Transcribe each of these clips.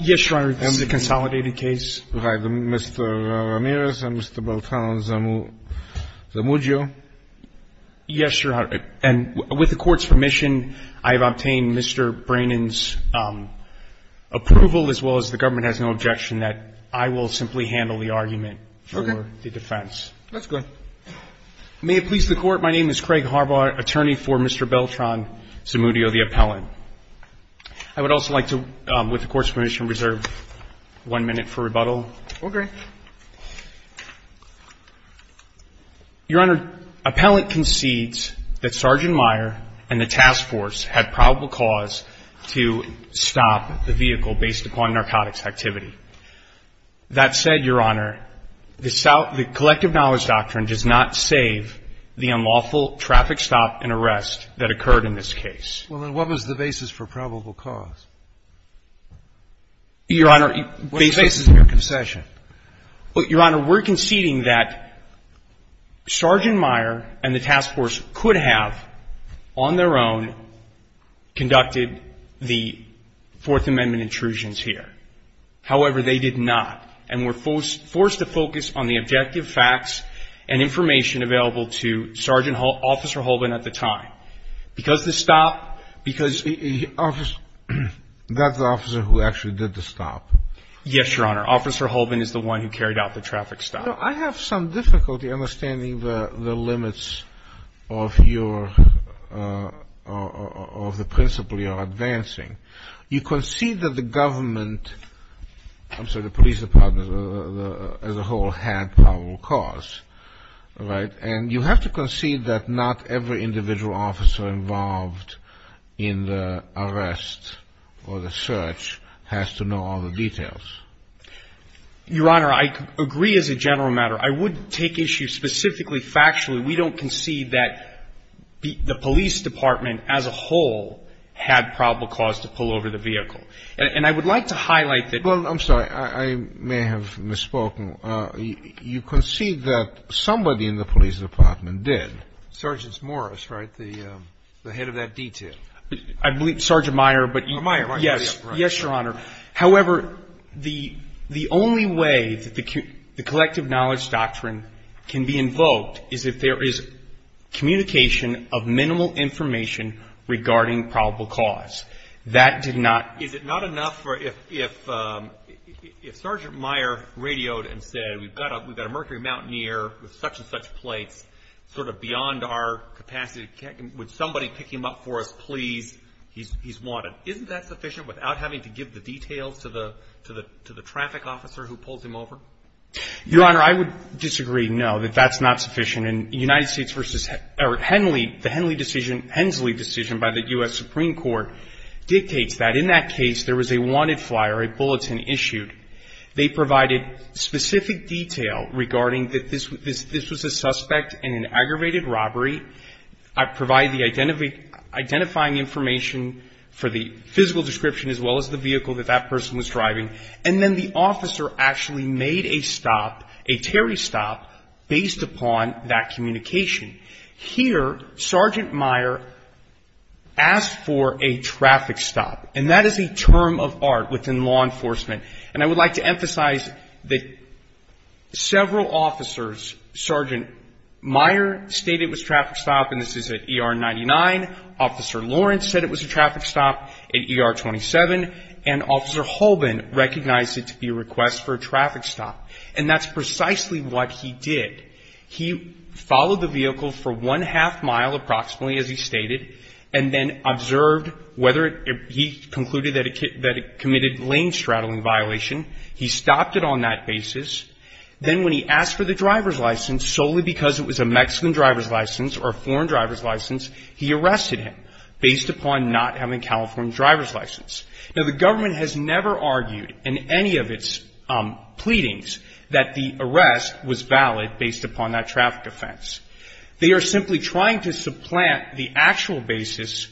Yes, Your Honor, this is a consolidated case. Mr. Ramirez and Mr. Beltran Zamudio. Yes, Your Honor, and with the Court's permission, I have obtained Mr. Brannon's approval, as well as the government has no objection that I will simply handle the argument for the defense. That's good. May it please the Court, my name is Craig Harbaugh, attorney for Mr. Beltran Zamudio, the appellant. I would also like to, with the Court's permission, reserve one minute for rebuttal. Okay. Your Honor, appellant concedes that Sergeant Meyer and the task force had probable cause to stop the vehicle based upon narcotics activity. That said, Your Honor, the collective knowledge doctrine does not save the unlawful traffic stop and arrest that occurred in this case. Well, then what was the basis for probable cause? Your Honor, based on your concession. Well, Your Honor, we're conceding that Sergeant Meyer and the task force could have, on their own, conducted the Fourth Amendment intrusions here. However, they did not and were forced to focus on the objective facts and information available to Sergeant Officer Holbin at the time. Because the stop, because the officer, that's the officer who actually did the stop. Yes, Your Honor. Officer Holbin is the one who carried out the traffic stop. I have some difficulty understanding the limits of your, of the principle you're advancing. You concede that the government, I'm sorry, the police department as a whole had probable cause, right? And you have to concede that not every individual officer involved in the arrest or the search has to know all the details. Your Honor, I agree as a general matter. I would take issue specifically factually. We don't concede that the police department as a whole had probable cause to pull over the vehicle. And I would like to highlight that. Well, I'm sorry. I may have misspoken. You concede that somebody in the police department did. Sergeant Morris, right? The head of that detail. I believe it's Sergeant Meyer. Meyer, right? Yes. Yes, Your Honor. However, the only way that the collective knowledge doctrine can be invoked is if there is communication of minimal information regarding probable cause. That did not. Is it not enough if Sergeant Meyer radioed and said we've got a Mercury Mountaineer with such and such plates, sort of beyond our capacity, would somebody pick him up for us, please? He's wanted. Isn't that sufficient without having to give the details to the traffic officer who pulls him over? Your Honor, I would disagree, no, that that's not sufficient. The Hensley decision by the U.S. Supreme Court dictates that in that case there was a wanted flyer, a bulletin issued. They provided specific detail regarding that this was a suspect in an aggravated robbery. I provided the identifying information for the physical description as well as the vehicle that that person was driving. And then the officer actually made a stop, a Terry stop, based upon that communication. Here, Sergeant Meyer asked for a traffic stop, and that is a term of art within law enforcement. And I would like to emphasize that several officers, Sergeant Meyer stated it was a traffic stop, and this is at ER 99. Officer Lawrence said it was a traffic stop at ER 27, and Officer Holbin recognized it to be a request for a traffic stop. And that's precisely what he did. He followed the vehicle for one-half mile approximately, as he stated, and then observed whether he concluded that it committed lane straddling violation. He stopped it on that basis. Then when he asked for the driver's license, solely because it was a Mexican driver's license or a foreign driver's license, he arrested him based upon not having a California driver's license. Now, the government has never argued in any of its pleadings that the arrest was valid based upon that traffic offense. They are simply trying to supplant the actual basis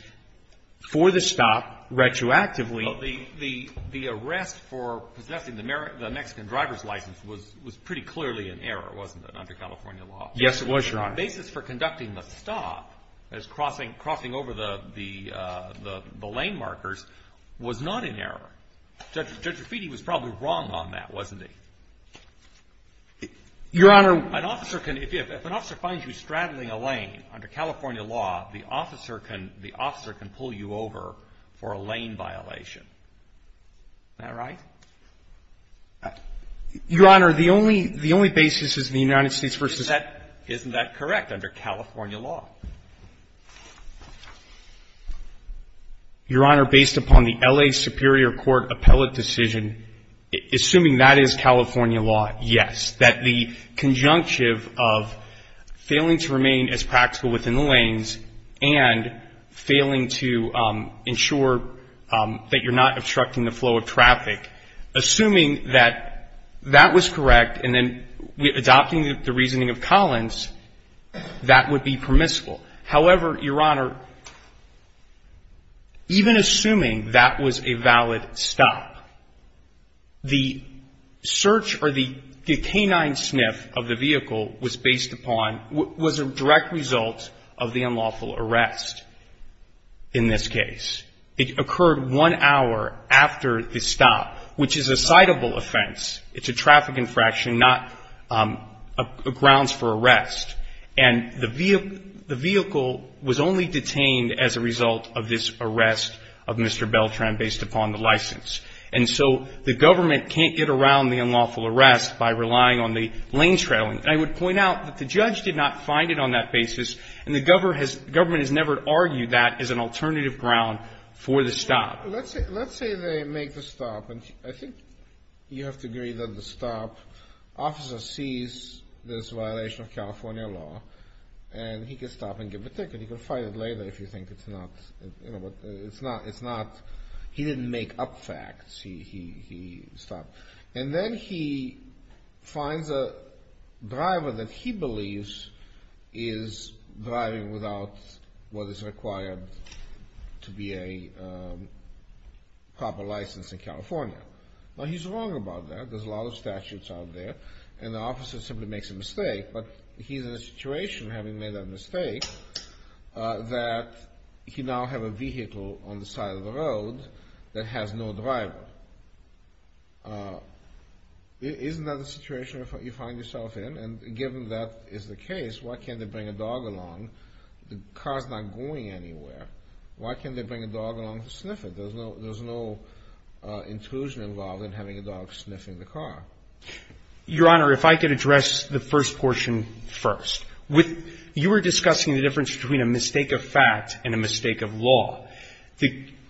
for the stop retroactively. The arrest for possessing the Mexican driver's license was pretty clearly an error, wasn't it, under California law? Yes, it was, Your Honor. But the basis for conducting the stop as crossing over the lane markers was not an error. Judge Raffitti was probably wrong on that, wasn't he? Your Honor. An officer can, if an officer finds you straddling a lane under California law, the officer can pull you over for a lane violation. Is that right? Your Honor, the only basis is the United States v. Isn't that correct under California law? Your Honor, based upon the L.A. Superior Court appellate decision, assuming that is California law, yes, that the conjunctive of failing to remain as practical within the lanes and failing to ensure that you're not obstructing the flow of traffic, assuming that that was correct and then adopting the reasoning of Collins, that would be permissible. However, Your Honor, even assuming that was a valid stop, the search or the canine sniff of the vehicle was based upon was a direct result of the unlawful arrest in this case. It occurred one hour after the stop, which is a citable offense. It's a traffic infraction, not grounds for arrest. And the vehicle was only detained as a result of this arrest of Mr. Beltran based upon the license. And so the government can't get around the unlawful arrest by relying on the lane trailing. And I would point out that the judge did not find it on that basis, and the government has never argued that as an alternative ground for the stop. Let's say they make the stop, and I think you have to agree that the stop, officer sees this violation of California law, and he can stop and give a ticket. He can file it later if you think it's not, you know, it's not, it's not, he didn't make up facts. He stopped. And then he finds a driver that he believes is driving without what is required to be a proper license in California. Now he's wrong about that. There's a lot of statutes out there, and the officer simply makes a mistake. But he's in a situation, having made that mistake, that he now have a vehicle on the side of the road that has no driver. Isn't that a situation you find yourself in? And given that is the case, why can't they bring a dog along? The car's not going anywhere. Why can't they bring a dog along to sniff it? There's no intrusion involved in having a dog sniffing the car. Your Honor, if I could address the first portion first. With, you were discussing the difference between a mistake of fact and a mistake of law.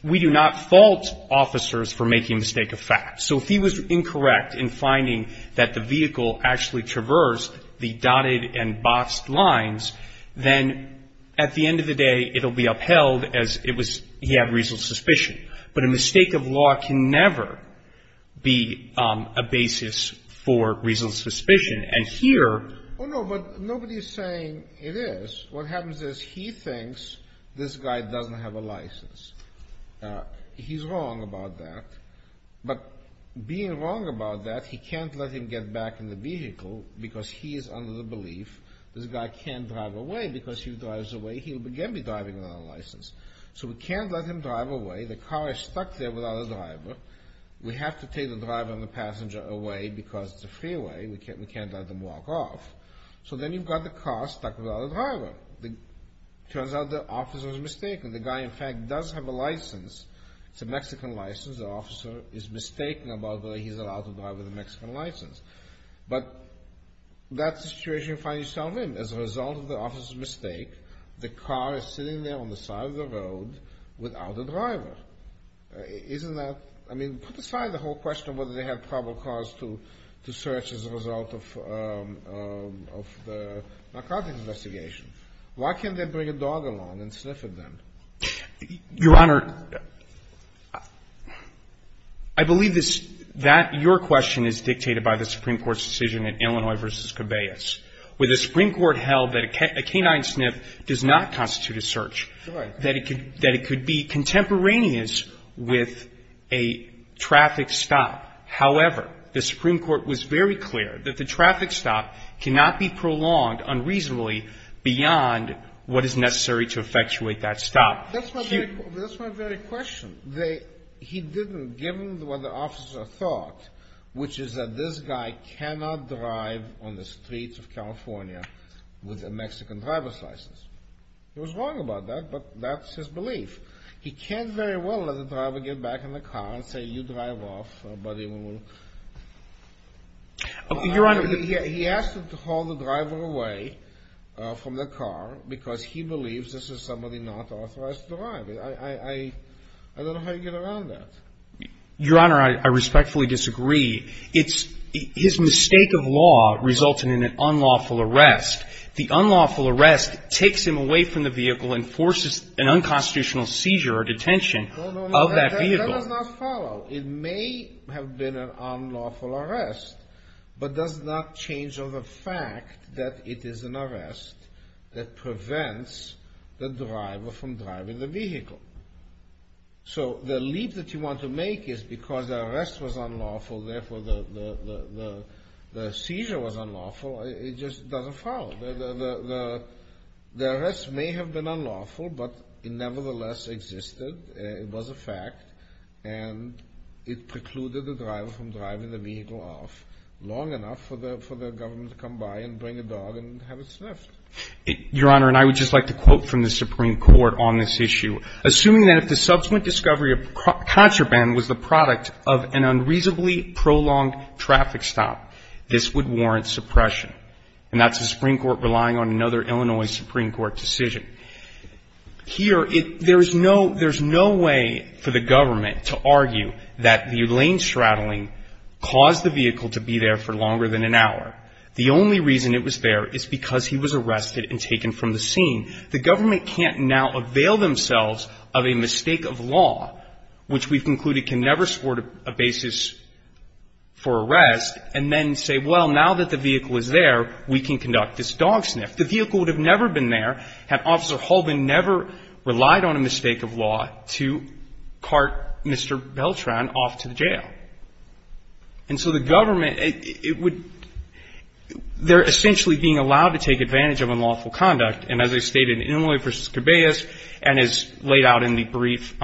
We do not fault officers for making a mistake of fact. So if he was incorrect in finding that the vehicle actually traversed the dotted and boxed lines, then at the end of the day it will be upheld as it was, he had reasonable suspicion. But a mistake of law can never be a basis for reasonable suspicion. And here... Oh, no, but nobody's saying it is. What happens is he thinks this guy doesn't have a license. He's wrong about that. But being wrong about that, he can't let him get back in the vehicle because he is under the belief this guy can't drive away. Because if he drives away, he'll again be driving without a license. So we can't let him drive away. The car is stuck there without a driver. We have to take the driver and the passenger away because it's a freeway. We can't let them walk off. So then you've got the car stuck without a driver. It turns out the officer is mistaken. The guy, in fact, does have a license. It's a Mexican license. The officer is mistaken about the way he's allowed to drive with a Mexican license. But that's the situation you find yourself in. As a result of the officer's mistake, the car is sitting there on the side of the road without a driver. Isn't that... I mean, put aside the whole question of whether they had probable cause to search as a result of the narcotics investigation. Why can't they bring a dog along and sniff at them? Your Honor, I believe that your question is dictated by the Supreme Court's decision in Illinois v. where the Supreme Court held that a canine sniff does not constitute a search. That it could be contemporaneous with a traffic stop. However, the Supreme Court was very clear that the traffic stop cannot be prolonged unreasonably beyond what is necessary to effectuate that stop. That's my very question. He didn't, given what the officer thought, which is that this guy cannot drive on the streets of California with a Mexican driver's license. He was wrong about that, but that's his belief. He can very well let the driver get back in the car and say, you drive off, buddy. He asked him to haul the driver away from the car because he believes this is somebody not authorized to drive. I don't know how you get around that. Your Honor, I respectfully disagree. His mistake of law resulted in an unlawful arrest. The unlawful arrest takes him away from the vehicle and forces an unconstitutional seizure or detention of that vehicle. That does not follow. It may have been an unlawful arrest, but does not change the fact that it is an arrest that prevents the driver from driving the vehicle. So the leap that you want to make is because the arrest was unlawful, therefore the seizure was unlawful. It just doesn't follow. The arrest may have been unlawful, but it nevertheless existed. It was a fact. And it precluded the driver from driving the vehicle off long enough for the government to come by and bring a dog and have it sniffed. Your Honor, and I would just like to quote from the Supreme Court on this issue. Assuming that if the subsequent discovery of contraband was the product of an unreasonably prolonged traffic stop, this would warrant suppression. And that's the Supreme Court relying on another Illinois Supreme Court decision. Here, there's no way for the government to argue that the lane straddling caused the vehicle to be there for longer than an hour. The only reason it was there is because he was arrested and taken from the scene. The government can't now avail themselves of a mistake of law, which we've concluded can never support a basis for arrest, and then say, well, now that the vehicle is there, we can conduct this dog sniff. The vehicle would have never been there had Officer Holbin never relied on a mistake of law to cart Mr. Beltran off to the jail. And so the government, it would – they're essentially being allowed to take advantage of unlawful conduct. And as I stated in Illinois v. Corbeus and as laid out in the brief –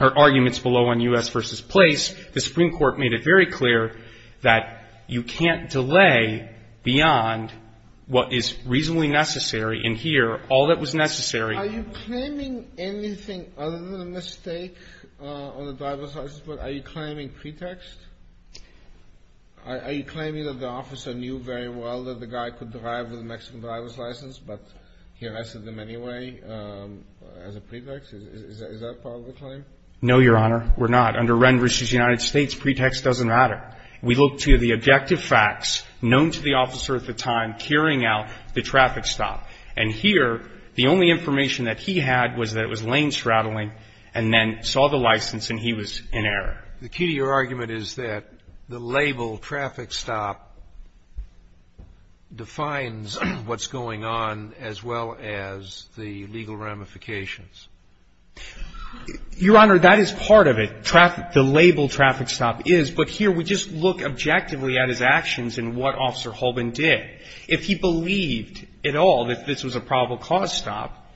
or arguments below on U.S. v. Place, the Supreme Court made it very clear that you can't delay beyond what is reasonably necessary. And here, all that was necessary – Are you claiming anything other than a mistake on the driver's license? Are you claiming pretext? Are you claiming that the officer knew very well that the guy could drive with a Mexican driver's license, but he arrested them anyway as a pretext? Is that part of the claim? No, Your Honor, we're not. Under Wren v. United States, pretext doesn't matter. We look to the objective facts known to the officer at the time carrying out the traffic stop. And here, the only information that he had was that it was lane straddling and then saw the license and he was in error. The key to your argument is that the label traffic stop defines what's going on as well as the legal ramifications. Your Honor, that is part of it, the label traffic stop is, but here we just look objectively at his actions and what Officer Holbin did. If he believed at all that this was a probable cause stop,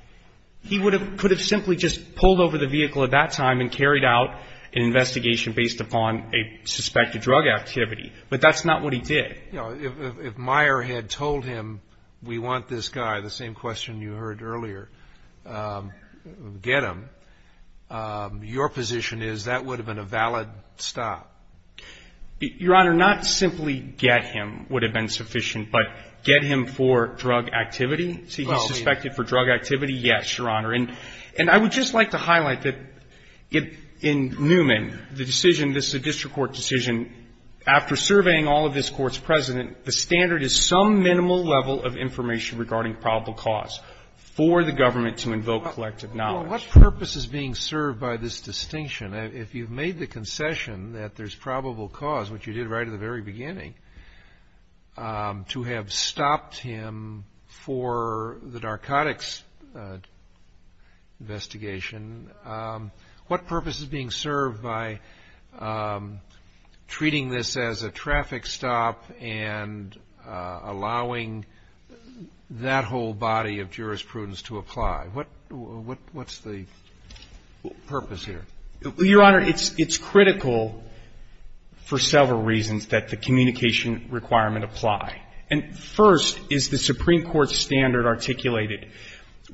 he could have simply just pulled over the vehicle at that time and carried out an investigation based upon a suspected drug activity. But that's not what he did. If Meyer had told him, we want this guy, the same question you heard earlier, get him, your position is that would have been a valid stop. Your Honor, not simply get him would have been sufficient, but get him for drug activity? See, he's suspected for drug activity? Yes, Your Honor. And I would just like to highlight that in Newman, the decision, this is a district court decision, and after surveying all of this Court's precedent, the standard is some minimal level of information regarding probable cause for the government to invoke collective knowledge. What purpose is being served by this distinction? If you've made the concession that there's probable cause, which you did right at the very beginning, to have stopped him for the narcotics investigation, what purpose is being served by treating this as a traffic stop and allowing that whole body of jurisprudence to apply? What's the purpose here? Your Honor, it's critical for several reasons that the communication requirement apply. And first is the Supreme Court standard articulated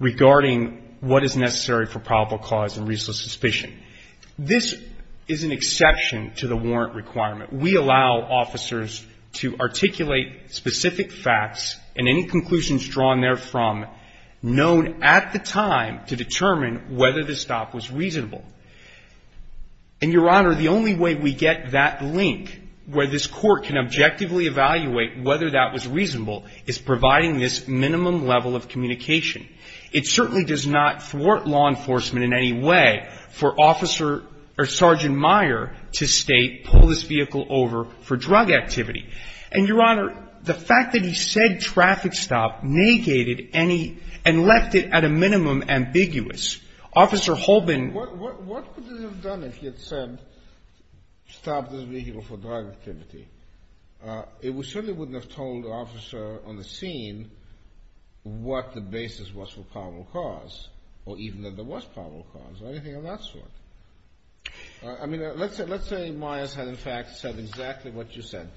regarding what is necessary for probable cause and reasonable suspicion. This is an exception to the warrant requirement. We allow officers to articulate specific facts and any conclusions drawn therefrom known at the time to determine whether the stop was reasonable. And, Your Honor, the only way we get that link, where this Court can objectively evaluate whether that was reasonable, is providing this minimum level of communication. It certainly does not thwart law enforcement in any way for Officer or Sergeant Meyer to state pull this vehicle over for drug activity. And, Your Honor, the fact that he said traffic stop negated any and left it at a minimum ambiguous. Officer Holbin. What would it have done if he had said stop this vehicle for drug activity? It certainly wouldn't have told the officer on the scene what the basis was for probable cause, or even that there was probable cause or anything of that sort. I mean, let's say Meyers had, in fact, said exactly what you said.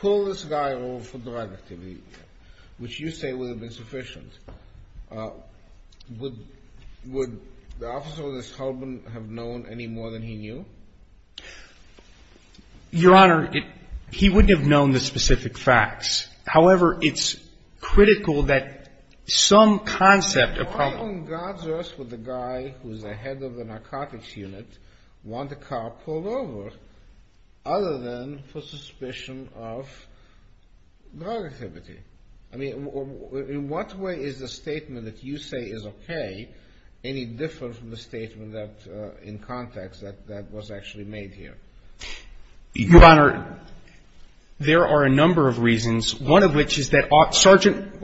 Pull this guy over for drug activity, which you say would have been sufficient. Would the officer, this Holbin, have known any more than he knew? Your Honor, he wouldn't have known the specific facts. However, it's critical that some concept of probable cause. Why on God's earth would the guy who's the head of the narcotics unit want a car pulled over other than for suspicion of drug activity? I mean, in what way is the statement that you say is okay any different from the statement that, in context, that was actually made here? Your Honor, there are a number of reasons, one of which is that Sergeant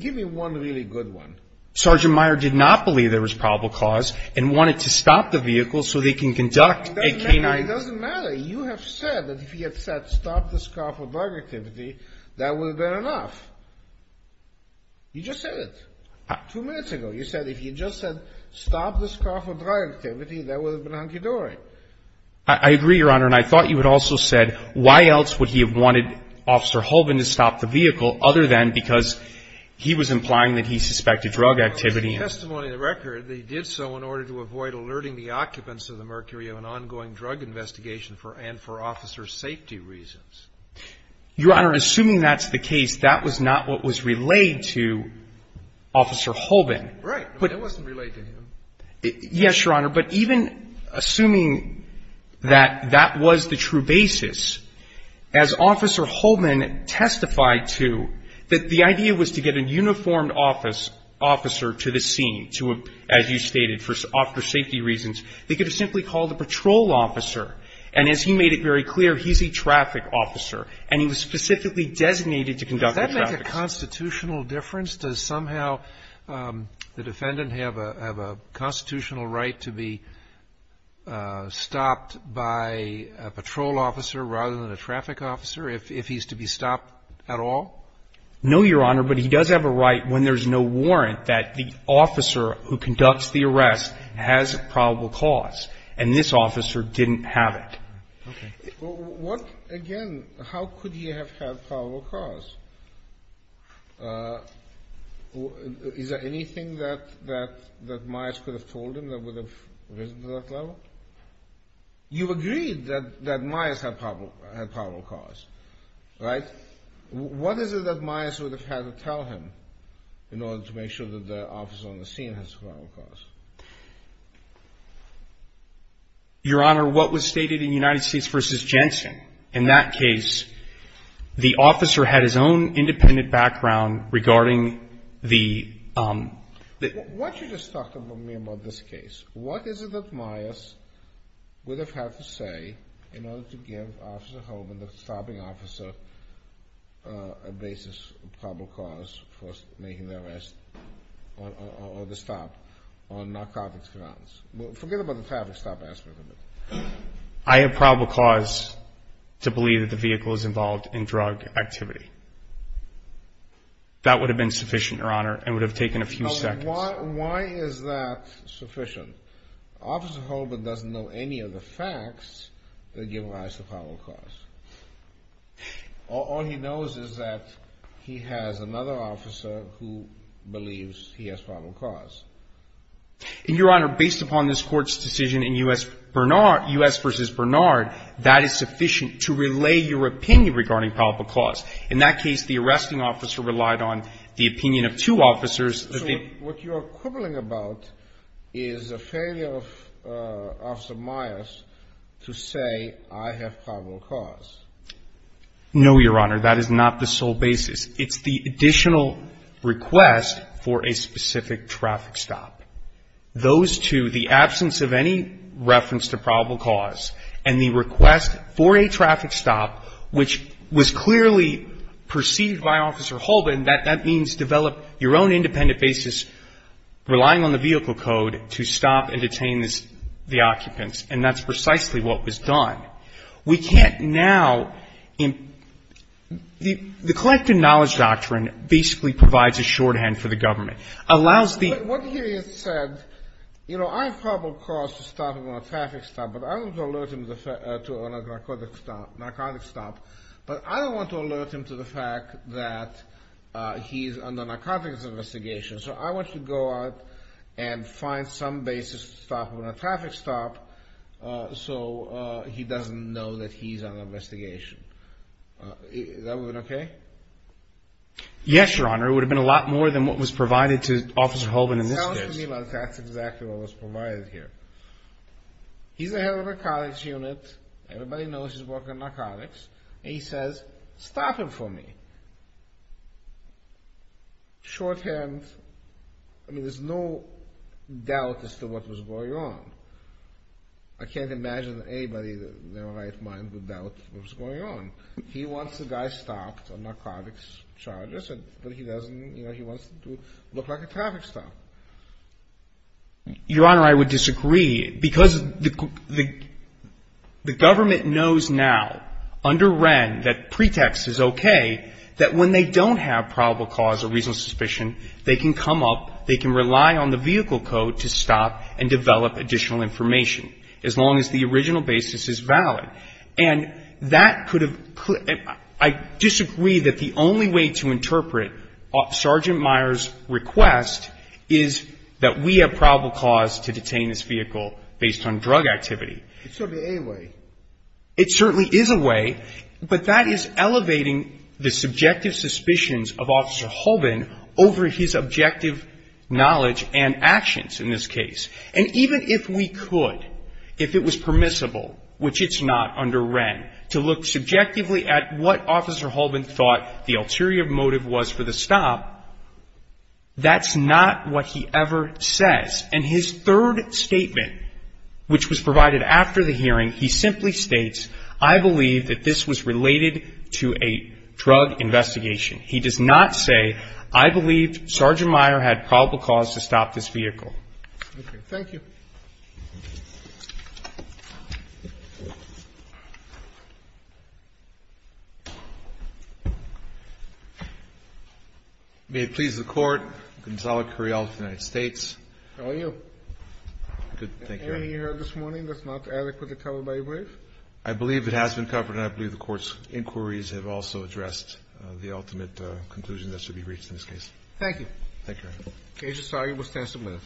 Give me one really good one. Sergeant Meyer did not believe there was probable cause and wanted to stop the vehicle so they can conduct a canine It doesn't matter. You have said that if he had said stop this car for drug activity, that would have been enough. You just said it two minutes ago. You said if you just said stop this car for drug activity, that would have been hunky-dory. I agree, Your Honor, and I thought you had also said why else would he have wanted Officer Holbin to stop the vehicle other than because he was implying that he suspected drug activity. Your Honor, assuming that's the case, that was not what was relayed to Officer Holbin. Right. It wasn't relayed to him. Yes, Your Honor, but even assuming that that was the true basis, as Officer Holbin testified to, that the idea was to get a to, as you stated, for officer safety reasons, they could have simply called a patrol officer. And as he made it very clear, he's a traffic officer, and he was specifically designated to conduct the traffic. Does that make a constitutional difference? Does somehow the defendant have a constitutional right to be stopped by a patrol officer rather than a traffic officer if he's to be stopped at all? No, Your Honor, but he does have a right when there's no warrant that the officer who conducts the arrest has probable cause, and this officer didn't have it. Okay. What, again, how could he have had probable cause? Is there anything that Myers could have told him that would have risen to that level? You agreed that Myers had probable cause, right? What is it that Myers would have had to tell him in order to make sure that the officer on the scene has probable cause? Your Honor, what was stated in United States v. Jensen? In that case, the officer had his own independent background regarding the — Why don't you just talk to me about this case? What is it that Myers would have had to say in order to give Officer Holman, the stopping officer, a basis of probable cause for making the arrest or the stop on narcotics grounds? Forget about the traffic stop aspect of it. I have probable cause to believe that the vehicle is involved in drug activity. That would have been sufficient, Your Honor, and would have taken a few seconds. Why is that sufficient? Officer Holman doesn't know any of the facts that give rise to probable cause. All he knows is that he has another officer who believes he has probable cause. And, Your Honor, based upon this Court's decision in U.S. v. Bernard, that is sufficient to relay your opinion regarding probable cause. In that case, the arresting officer relied on the opinion of two officers. So what you are quibbling about is a failure of Officer Myers to say, I have probable cause. No, Your Honor. That is not the sole basis. It's the additional request for a specific traffic stop. Those two, the absence of any reference to probable cause and the request for a traffic stop, which was clearly perceived by Officer Holman, that that means develop your own independent basis, relying on the vehicle code to stop and detain the occupants. And that's precisely what was done. We can't now the collected knowledge doctrine basically provides a shorthand for the government. Allows the ---- But I don't want to alert him to the fact that he's under narcotics investigation. So I want to go out and find some basis to stop him at a traffic stop so he doesn't know that he's under investigation. Is everyone okay? Yes, Your Honor. It would have been a lot more than what was provided to Officer Holman in this case. Sounds to me like that's exactly what was provided here. He's the head of a narcotics unit. Everybody knows he's working on narcotics. And he says, stop him for me. Shorthand, I mean, there's no doubt as to what was going on. I can't imagine anybody in their right mind would doubt what was going on. He wants the guy stopped on narcotics charges, but he doesn't, you know, he wants to look like a traffic stop. Your Honor, I would disagree because the government knows now under Wren that pretext is okay, that when they don't have probable cause or reasonable suspicion, they can come up, they can rely on the vehicle code to stop and develop additional information, as long as the original basis is valid. And that could have ---- I disagree that the only way to interpret Sergeant Meyer's request is that we have probable cause to detain this vehicle based on drug activity. It's certainly a way. It certainly is a way, but that is elevating the subjective suspicions of Officer Holman over his objective knowledge and actions in this case. And even if we could, if it was permissible, which it's not under Wren, to look subjectively at what Officer Holman thought the ulterior motive was for the stop, that's not what he ever says. And his third statement, which was provided after the hearing, he simply states, I believe that this was related to a drug investigation. He does not say, I believe Sergeant Meyer had probable cause to stop this vehicle. Okay. Thank you. May it please the Court. Gonzalo Curiel, United States. How are you? Good. Thank you, Your Honor. Anything you heard this morning that's not adequately covered by your brief? I believe it has been covered, and I believe the Court's inquiries have also addressed Thank you, Your Honor. Okay. Thank you, Your Honor. Thank you, Your Honor.